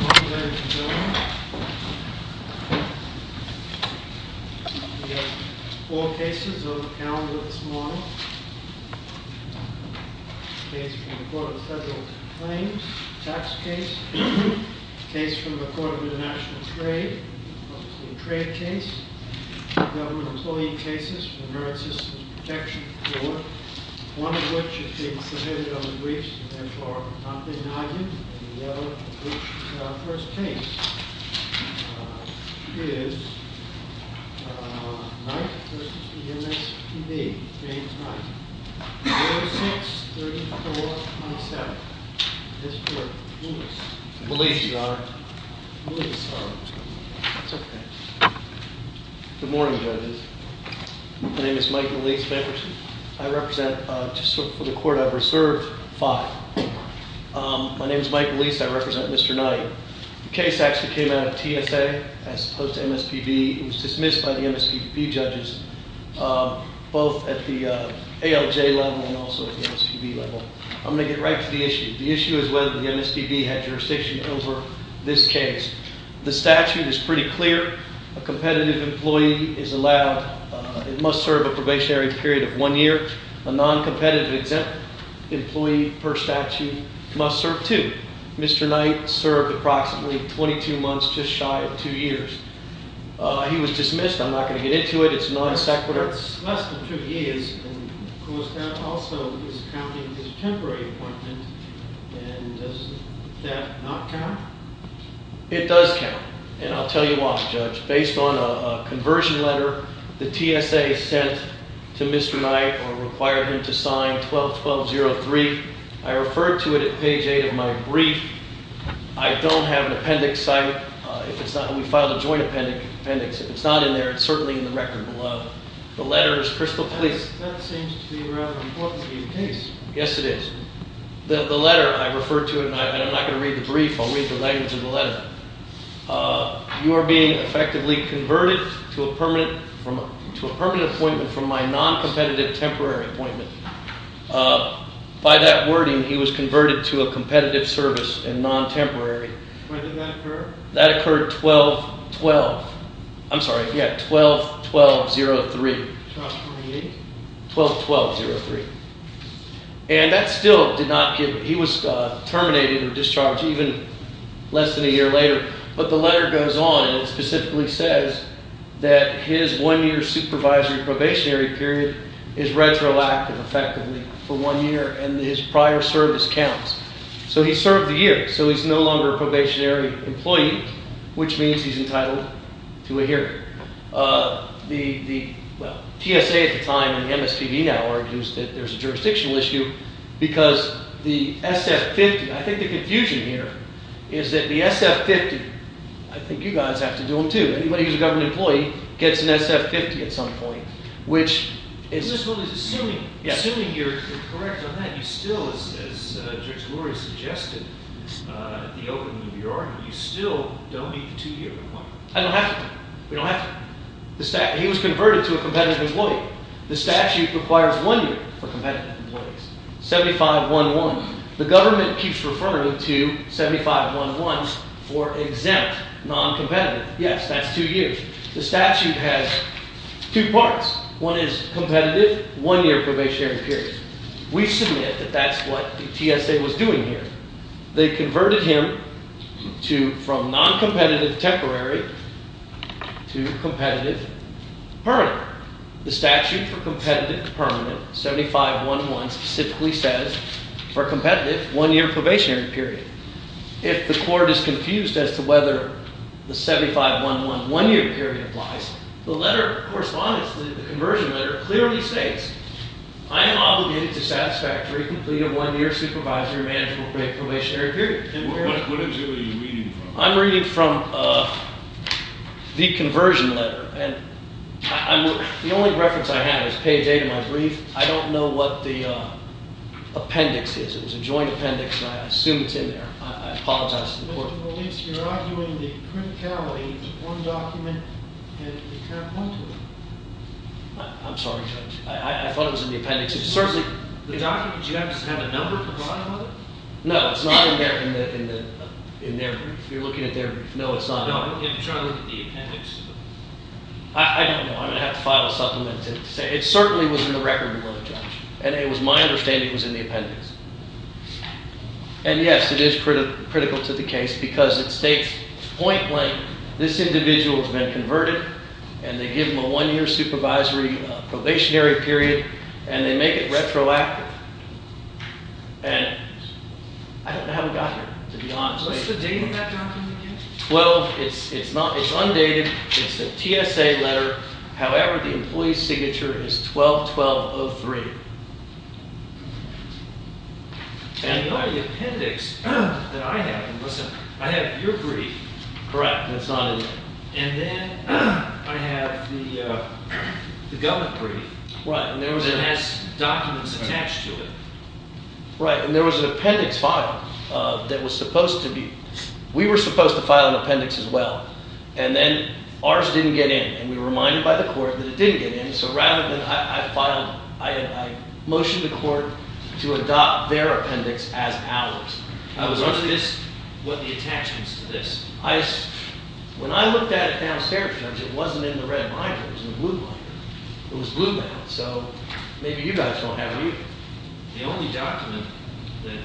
On behalf of the government, we have four cases on the calendar this morning, a case from the Court of Federal Claims, a tax case, a case from the Court of International Trade, a trade case, government employee cases for the Marine Systems Protection Corps, one of which has been submitted on the briefs and therefore not been argued, and the other, which is our first case, is Knight v. MSPB, Page 9, 06-3427. Mr. Lewis. Lewis, Your Honor. Good morning, judges. My name is Mike Lewis. I represent, just for the Court, I've reserved five. My name is Mike Lewis. I represent Mr. Knight. The case actually came out of TSA as opposed to MSPB. It was dismissed by the MSPB judges, both at the ALJ level and also at the MSPB level. I'm going to get right to the issue. The issue is whether the MSPB had jurisdiction over this case. The statute is pretty clear. A competitive employee is allowed, must serve a probationary period of one year. A non-competitive employee per statute must serve two. Mr. Knight served approximately 22 months, just shy of two years. He was dismissed. I'm not going to get into it. It's non-sequitur. It's less than two years, and of course that also is counting as a temporary appointment, and does that not count? That seems to be a rather important case. When did that occur? That occurred 12-12. I'm sorry, yeah, 12-12-03. 12-12-03. And that still did not give – he was terminated or discharged even less than a year later, but the letter goes on and it specifically says that his one-year supervisory probationary period is retroactive effectively for one year, and his prior service counts. So he served a year, so he's no longer a probationary employee, which means he's entitled to a hearing. The – well, TSA at the time and the MSPB now argues that there's a jurisdictional issue because the SF-50 – I think the confusion here is that the SF-50 – I think you guys have to do them too. Anybody who's a government employee gets an SF-50 at some point, which is – As Judge Lurie suggested at the opening of your argument, you still don't need the two-year requirement. I don't have to. We don't have to. He was converted to a competitive employee. The statute requires one year for competitive employees. 75-11. The government keeps referring to 75-11 for exempt non-competitive. Yes, that's two years. The statute has two parts. One is competitive, one-year probationary period. We submit that that's what TSA was doing here. They converted him to – from non-competitive temporary to competitive permanent. The statute for competitive to permanent, 75-11 specifically says for competitive, one-year probationary period. If the court is confused as to whether the 75-11 one-year period applies, the letter of correspondence, the conversion letter, clearly states, I am obligated to satisfy a three-completed one-year supervisory manageable probationary period. What is it that you're reading from? I'm reading from the conversion letter, and the only reference I have is page 8 of my brief. I don't know what the appendix is. It was a joint appendix, and I assume it's in there. I apologize to the court. Mr. Molise, you're arguing the criticality of one document, and you can't point to it. I'm sorry, Judge. I thought it was in the appendix. The document, do you have a number to file on it? No, it's not in there. You're looking at their brief. No, it's not in there. I'm trying to look at the appendix. I don't know. I'm going to have to file a supplement to say it certainly was in the record below, Judge. And it was my understanding it was in the appendix. And yes, it is critical to the case because it states point blank, this individual has been converted, and they give them a one-year supervisory probationary period, and they make it retroactive. And I don't know how it got here, to be honest with you. What's the date of that document again? Well, it's undated. It's a TSA letter. However, the employee's signature is 12-1203. And in the appendix that I have, I have your brief. Correct, and it's not in there. And then I have the government brief that has documents attached to it. Right, and there was an appendix filed that was supposed to be – we were supposed to file an appendix as well. And then ours didn't get in, and we were reminded by the court that it didn't get in. So rather than – I filed – I motioned the court to adopt their appendix as ours. I was wondering what the attachment is to this. I – when I looked at it downstairs, Judge, it wasn't in the red binder. It was in the blue binder. It was blue bound. So maybe you guys don't have it either. The only document that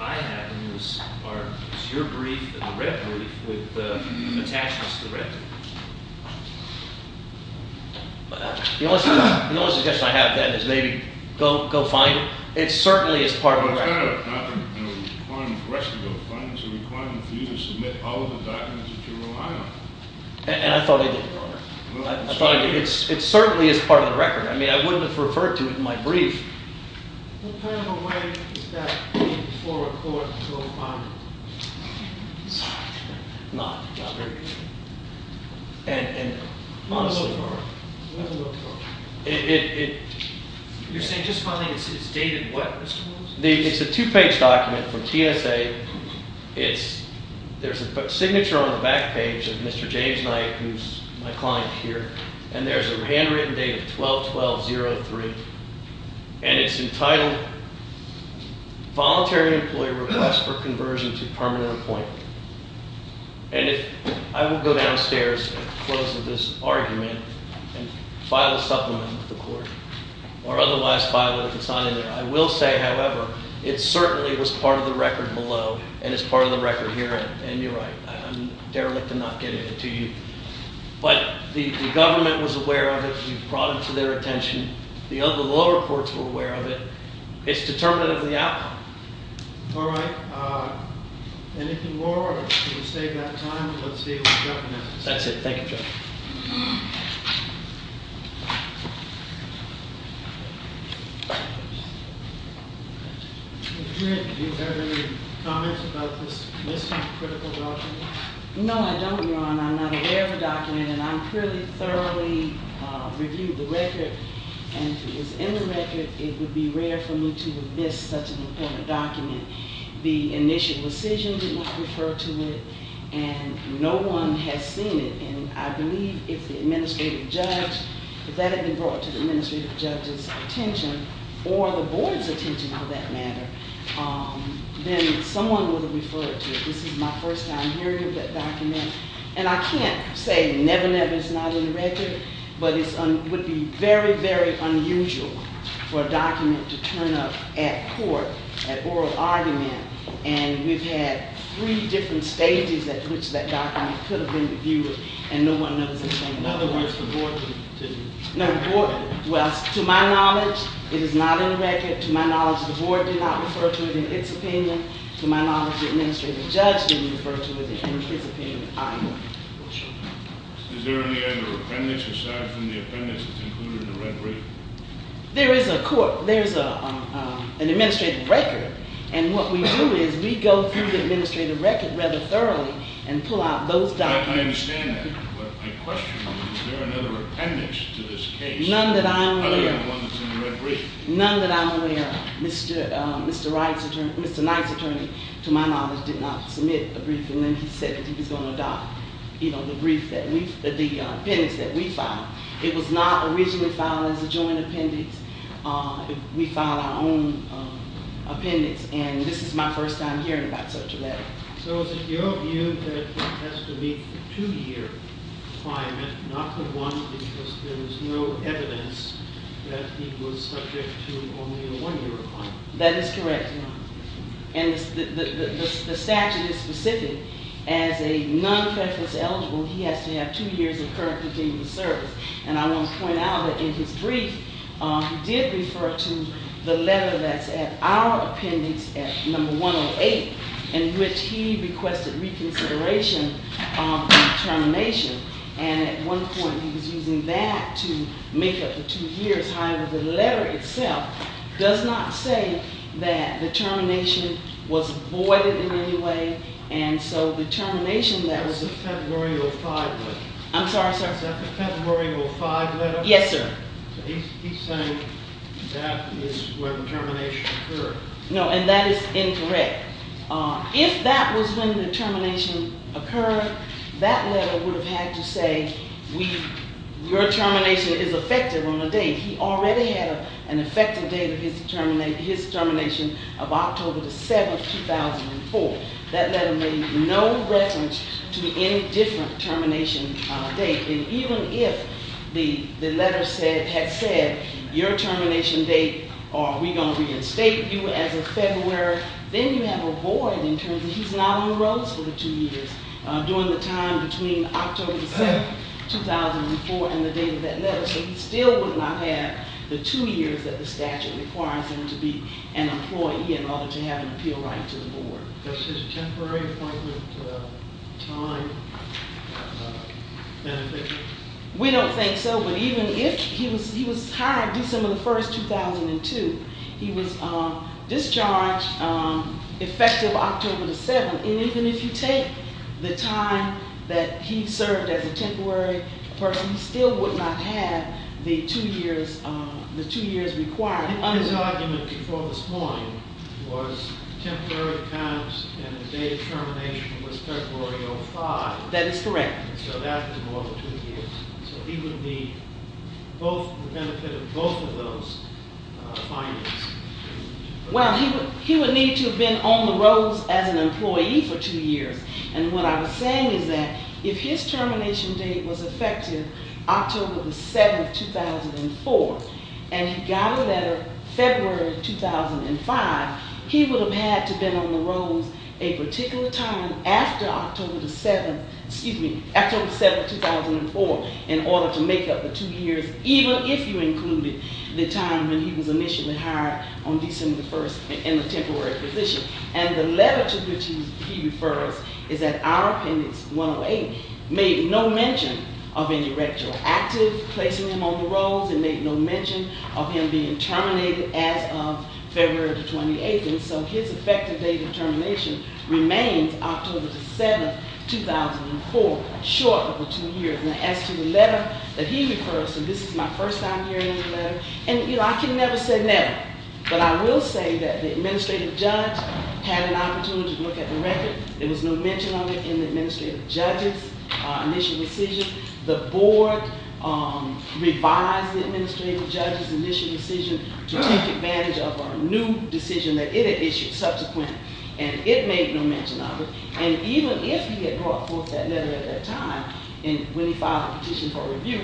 I have in this part is your brief and the red brief with attachments to the red brief. The only suggestion I have then is maybe go find it. It certainly is part of the record. It's not a requirement for us to go find it. It's a requirement for you to submit all of the documents that you rely on. And I thought I did, Your Honor. It certainly is part of the record. I mean, I wouldn't have referred to it in my brief. What kind of a way is that for a court to go find it? It's not, Your Honor. It's very difficult. And honestly – We'll have to go to court. It – it – You're saying, just finally, it's dated what, Mr. Holmes? It's a two-page document from TSA. It's – there's a signature on the back page of Mr. James Knight, who's my client here. And there's a handwritten date of 12-12-03. And it's entitled, Voluntary Employee Request for Conversion to Permanent Appointment. And if – I will go downstairs at the close of this argument and file a supplement with the court or otherwise file it if it's not in there. I will say, however, it certainly was part of the record below. And it's part of the record here. And you're right. I'm derelict in not getting it to you. But the government was aware of it. You brought it to their attention. The other – the lower courts were aware of it. It's determinative of the outcome. All right. Anything more? We'll save that time. Let's see what the judge announces. That's it. Thank you, Judge. Thank you. Judge Grant, do you have any comments about this missing critical document? No, I don't, Your Honor. I'm not aware of the document. And I'm clearly thoroughly reviewing the record. And if it was in the record, it would be rare for me to have missed such an important document. The initial decision did not refer to it. And no one has seen it. And I believe if the administrative judge – if that had been brought to the administrative judge's attention or the board's attention, for that matter, then someone would have referred to it. This is my first time hearing of that document. And I can't say never, never. It's not in the record. But it would be very, very unusual for a document to turn up at court, at oral argument. And we've had three different stages at which that document could have been reviewed. And no one knows the same. In other words, the board didn't – No, the board – well, to my knowledge, it is not in the record. To my knowledge, the board did not refer to it in its opinion. To my knowledge, the administrative judge didn't refer to it in his opinion either. Is there any other appendix aside from the appendix that's included in the red record? There is a court – there's an administrative record. And what we do is we go through the administrative record rather thoroughly and pull out those documents. I understand that. But my question is, is there another appendix to this case? None that I'm aware of. Other than the one that's in the red brief. None that I'm aware of. Mr. Knight's attorney, to my knowledge, did not submit a brief. And then he said that he was going to adopt, you know, the brief that we – the appendix that we filed. It was not originally filed as a joint appendix. We filed our own appendix. And this is my first time hearing about such a letter. So is it your view that it has to be a two-year claimant, not the one because there is no evidence that he was subject to only a one-year claimant? That is correct, Your Honor. And the statute is specific. As a non-creditless eligible, he has to have two years of current continual service. And I want to point out that in his brief, he did refer to the letter that's at our appendix, at number 108, in which he requested reconsideration of termination. And at one point, he was using that to make up the two years. However, the letter itself does not say that the termination was voided in any way. And so the termination that was – That was in February of 2005. I'm sorry? Is that the February of 2005 letter? Yes, sir. He's saying that is when the termination occurred. No, and that is incorrect. If that was when the termination occurred, that letter would have had to say, your termination is effective on a date. He already had an effective date of his termination of October the 7th, 2004. That letter made no reference to any different termination date. And even if the letter had said, your termination date, are we going to reinstate you as of February? Then you have a void in terms of he's not on the roads for the two years during the time between October the 7th, 2004, and the date of that letter. So he still would not have the two years that the statute requires him to be an employee in order to have an appeal right to the board. Does his temporary appointment time benefit him? We don't think so, but even if – he was hired December the 1st, 2002. He was discharged effective October the 7th. And even if you take the time that he served as a temporary person, he still would not have the two years required. His argument before this morning was temporary terms and the date of termination was February 05. That is correct. So that was more than two years. So he would be both – the benefit of both of those findings. Well, he would need to have been on the roads as an employee for two years. And what I was saying is that if his termination date was effective October the 7th, 2004, and he got a letter February 2005, he would have had to have been on the roads a particular time after October the 7th, 2004, in order to make up the two years, even if you included the time when he was initially hired on December the 1st in the temporary position. And the letter to which he refers is that our appendix 108 made no mention of any retroactive placing him on the roads and made no mention of him being terminated as of February the 28th. And so his effective date of termination remains October the 7th, 2004, short of the two years. And as to the letter that he refers to, this is my first time hearing the letter. And, you know, I can never say never. But I will say that the administrative judge had an opportunity to look at the record. There was no mention of it in the administrative judge's initial decision. The board revised the administrative judge's initial decision to take advantage of a new decision that it had issued subsequent. And it made no mention of it. And even if he had brought forth that letter at that time when he filed a petition for review,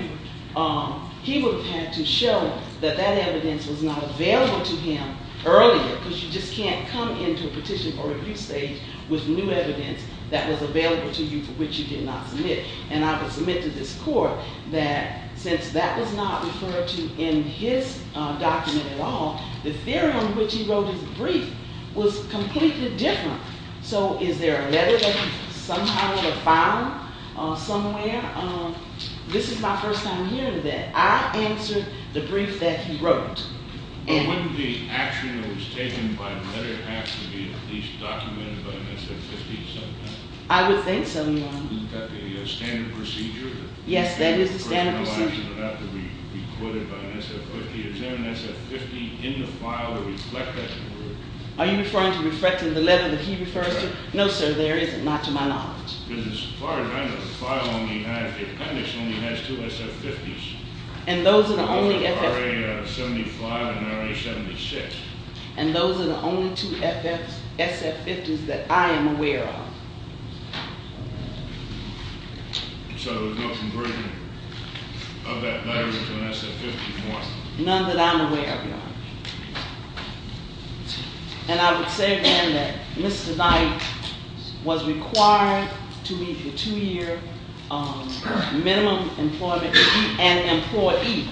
he would have had to show that that evidence was not available to him earlier, because you just can't come into a petition for review stage with new evidence that was available to you for which you did not submit. And I would submit to this court that since that was not referred to in his document at all, the theory on which he wrote his brief was completely different. So is there a letter that he somehow would have found somewhere? This is my first time hearing that. I answered the brief that he wrote. But wouldn't the action that was taken by the letter have to be at least documented by MSN 50 or something? I would think so, Your Honor. Isn't that the standard procedure? Yes, that is the standard procedure. It's about to be recorded by MSN 50. Is there an MSN 50 in the file to reflect that? Are you referring to reflecting the letter that he refers to? No, sir, there isn't, not to my knowledge. As far as I know, the file on the appendix only has two MSN 50s. And those are the only- RA 75 and RA 76. And those are the only two SF 50s that I am aware of. So there's no conversion of that diary to an SF 50, Your Honor? None that I'm aware of, Your Honor. And I would say, then, that Mr. Knight was required to meet the two-year minimum employment and employee.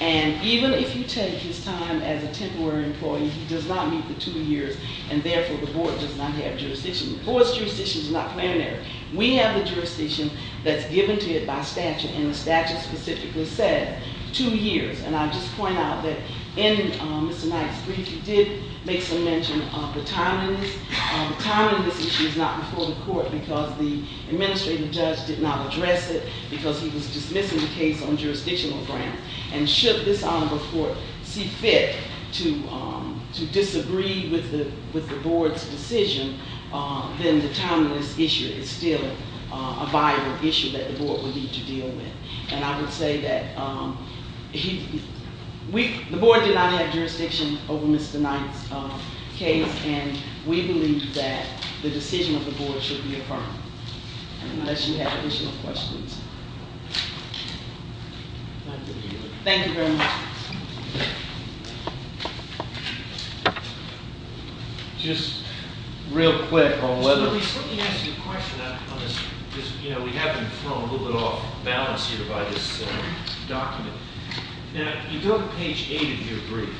And even if you take his time as a temporary employee, he does not meet the two years, and therefore the board does not have jurisdiction. The board's jurisdiction is not preliminary. We have the jurisdiction that's given to it by statute, and the statute specifically said two years. And I'll just point out that in Mr. Knight's brief, he did make some mention of the timeliness. The timeliness issue is not before the court because the administrative judge did not address it because he was dismissing the case on jurisdictional grounds. And should this honorable court see fit to disagree with the board's decision, then the timeliness issue is still a viable issue that the board would need to deal with. And I would say that the board did not have jurisdiction over Mr. Knight's case, and we believe that the decision of the board should be affirmed, unless you have additional questions. Thank you very much. Just real quick on whether- Let me ask you a question on this. Because, you know, we have been thrown a little bit off balance here by this document. Now, you go to page 8 of your brief.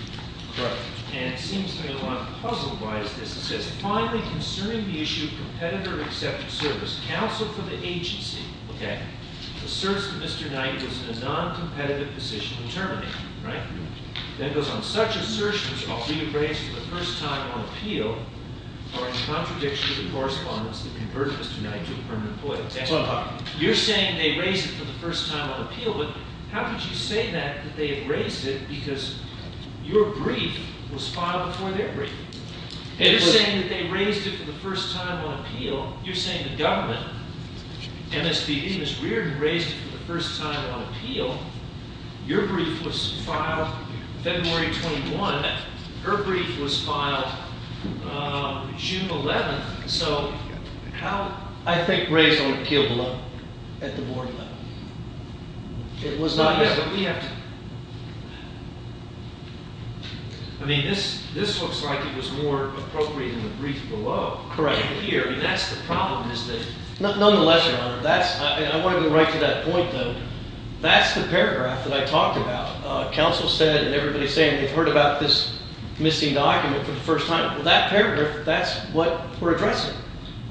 Correct. And it seems to me a lot puzzled by this. It says, finally concerning the issue of competitor acceptance service, counsel for the agency, okay, asserts that Mr. Knight was in a noncompetitive position in terminating. Right? Then it goes on, such assertions are being raised for the first time on appeal or in contradiction to the correspondence that converted Mr. Knight to a permanent employee. You're saying they raised it for the first time on appeal, but how could you say that they have raised it because your brief was filed before their brief? Well, you're saying the government, MSPD, Ms. Reardon raised it for the first time on appeal. Your brief was filed February 21. Her brief was filed June 11. So, how- I think raised on appeal below, at the board level. It was not- Yeah, but we have to- I mean, this looks like it was more appropriate in the brief below. Correct. Here, I mean, that's the problem is that- Nonetheless, Your Honor, that's- I want to go right to that point, though. That's the paragraph that I talked about. Counsel said, and everybody's saying they've heard about this missing document for the first time. Well, that paragraph, that's what we're addressing.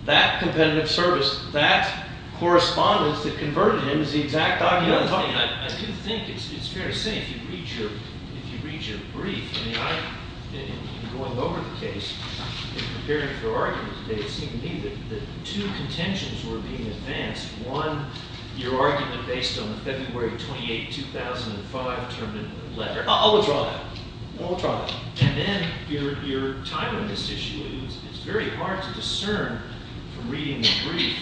That competitive service, that correspondence that converted him is the exact document I'm talking about. I do think it's fair to say if you read your brief, I mean, I've been going over the case and preparing for arguments. It seemed to me that two contentions were being advanced. One, your argument based on the February 28, 2005 term in the letter. I'll withdraw that. I'll withdraw that. And then, your timing of this issue. It's very hard to discern from reading the brief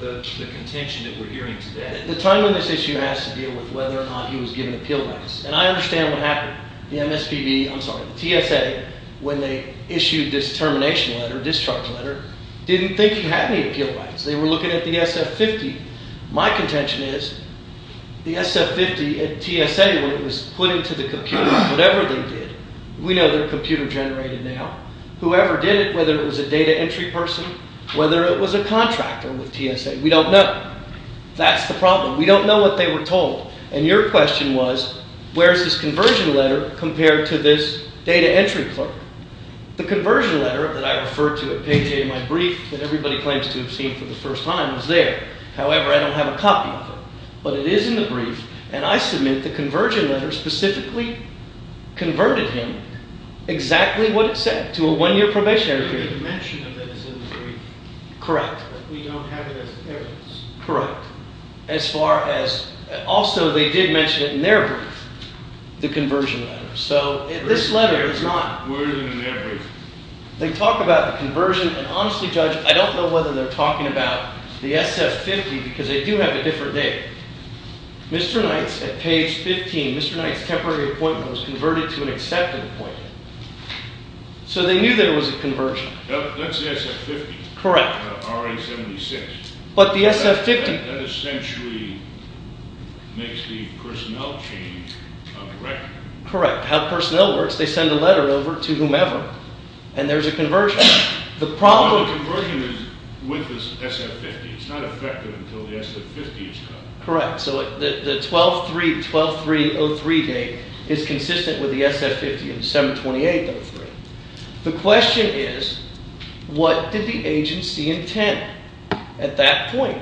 the contention that we're hearing today. The timing of this issue has to deal with whether or not he was given appeal rights. And I understand what happened. Now, the MSPB, I'm sorry, the TSA, when they issued this termination letter, discharge letter, didn't think he had any appeal rights. They were looking at the SF-50. My contention is the SF-50 at TSA, when it was put into the computer, whatever they did, we know they're computer generated now. Whoever did it, whether it was a data entry person, whether it was a contractor with TSA, we don't know. That's the problem. We don't know what they were told. And your question was, where is this conversion letter compared to this data entry clerk? The conversion letter that I referred to at page 8 of my brief that everybody claims to have seen for the first time was there. However, I don't have a copy of it. But it is in the brief, and I submit the conversion letter specifically converted him exactly what it said, to a one-year probationary period. You didn't mention that it's in the brief. Correct. But we don't have it as evidence. Correct. Also, they did mention it in their brief, the conversion letter. So this letter is not. Where is it in their brief? They talk about the conversion, and honestly, Judge, I don't know whether they're talking about the SF-50 because they do have a different data. Mr. Knight's at page 15, Mr. Knight's temporary appointment was converted to an accepted appointment. So they knew there was a conversion. That's the SF-50. Correct. RA-76. But the SF-50. That essentially makes the personnel change on the record. Correct. How personnel works. They send a letter over to whomever, and there's a conversion. Well, the conversion is with the SF-50. It's not effective until the SF-50 is done. Correct. So the 12-3-0-3 date is consistent with the SF-50 and the 7-28-0-3. The question is, what did the agency intend at that point?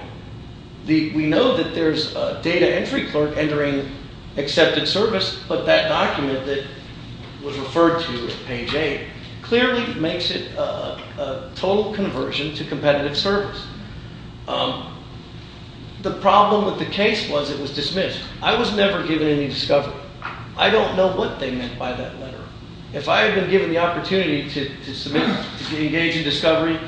We know that there's a data entry clerk entering accepted service, but that document that was referred to at page 8 clearly makes it a total conversion to competitive service. The problem with the case was it was dismissed. I was never given any discovery. I don't know what they meant by that letter. If I had been given the opportunity to engage in discovery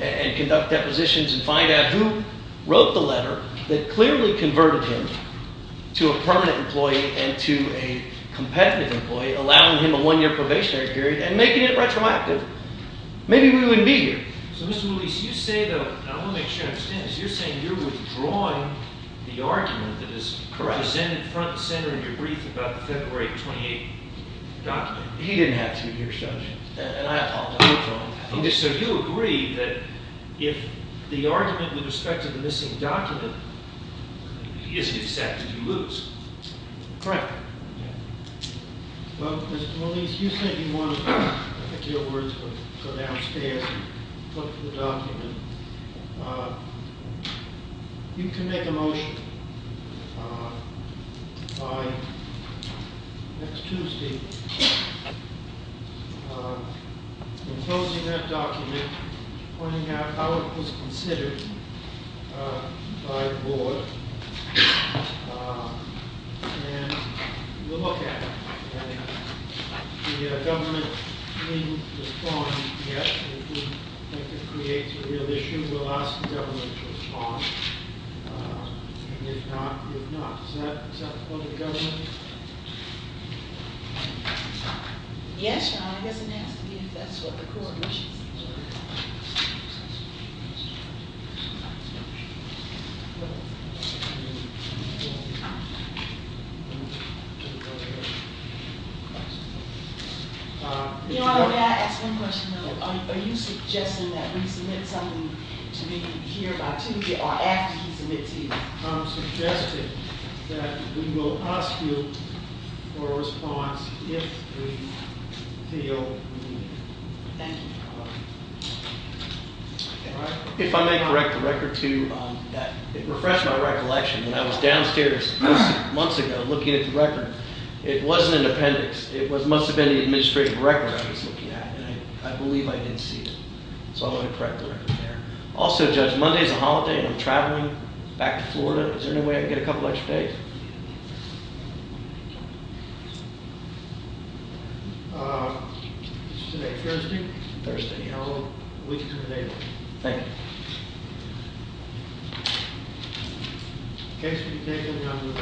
and conduct depositions and find out who wrote the letter that clearly converted him to a permanent employee and to a competitive employee, allowing him a one-year probationary period, and making it retroactive, maybe we wouldn't be here. So, Mr. Willese, you say, though, and I want to make sure I understand this, you're saying you're withdrawing the argument that is presented front and center in your brief about the February 28th document. He didn't have to, Your Honor. So you agree that if the argument with respect to the missing document isn't accepted, you lose. Correct. Well, Mr. Willese, you said you wanted to go downstairs and look at the document. You can make a motion by next Tuesday, imposing that document, pointing out how it was considered by the board, and we'll look at it. The government didn't respond yet. If you think it creates a real issue, we'll ask the government to respond. And if not, you're not. Is that the point of the government? Yes, Your Honor. I guess it has to be if that's what the court wishes. Your Honor, may I ask one question? Are you suggesting that we submit something to me here by Tuesday or after he submits either? I'm suggesting that we will ask you for a response if we feel we need it. Thank you, Your Honor. If I may correct the record, too, that refreshed my recollection. When I was downstairs months ago looking at the record, it wasn't an appendix. It must have been the administrative record I was looking at, and I believe I did see it. So I want to correct the record there. Also, Judge, Monday is a holiday, and I'm traveling back to Florida. Is there any way I can get a couple extra days? It's today, Thursday. Thursday. And I'll look at it later. Thank you. The case will be taken, and I'll move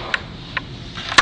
on.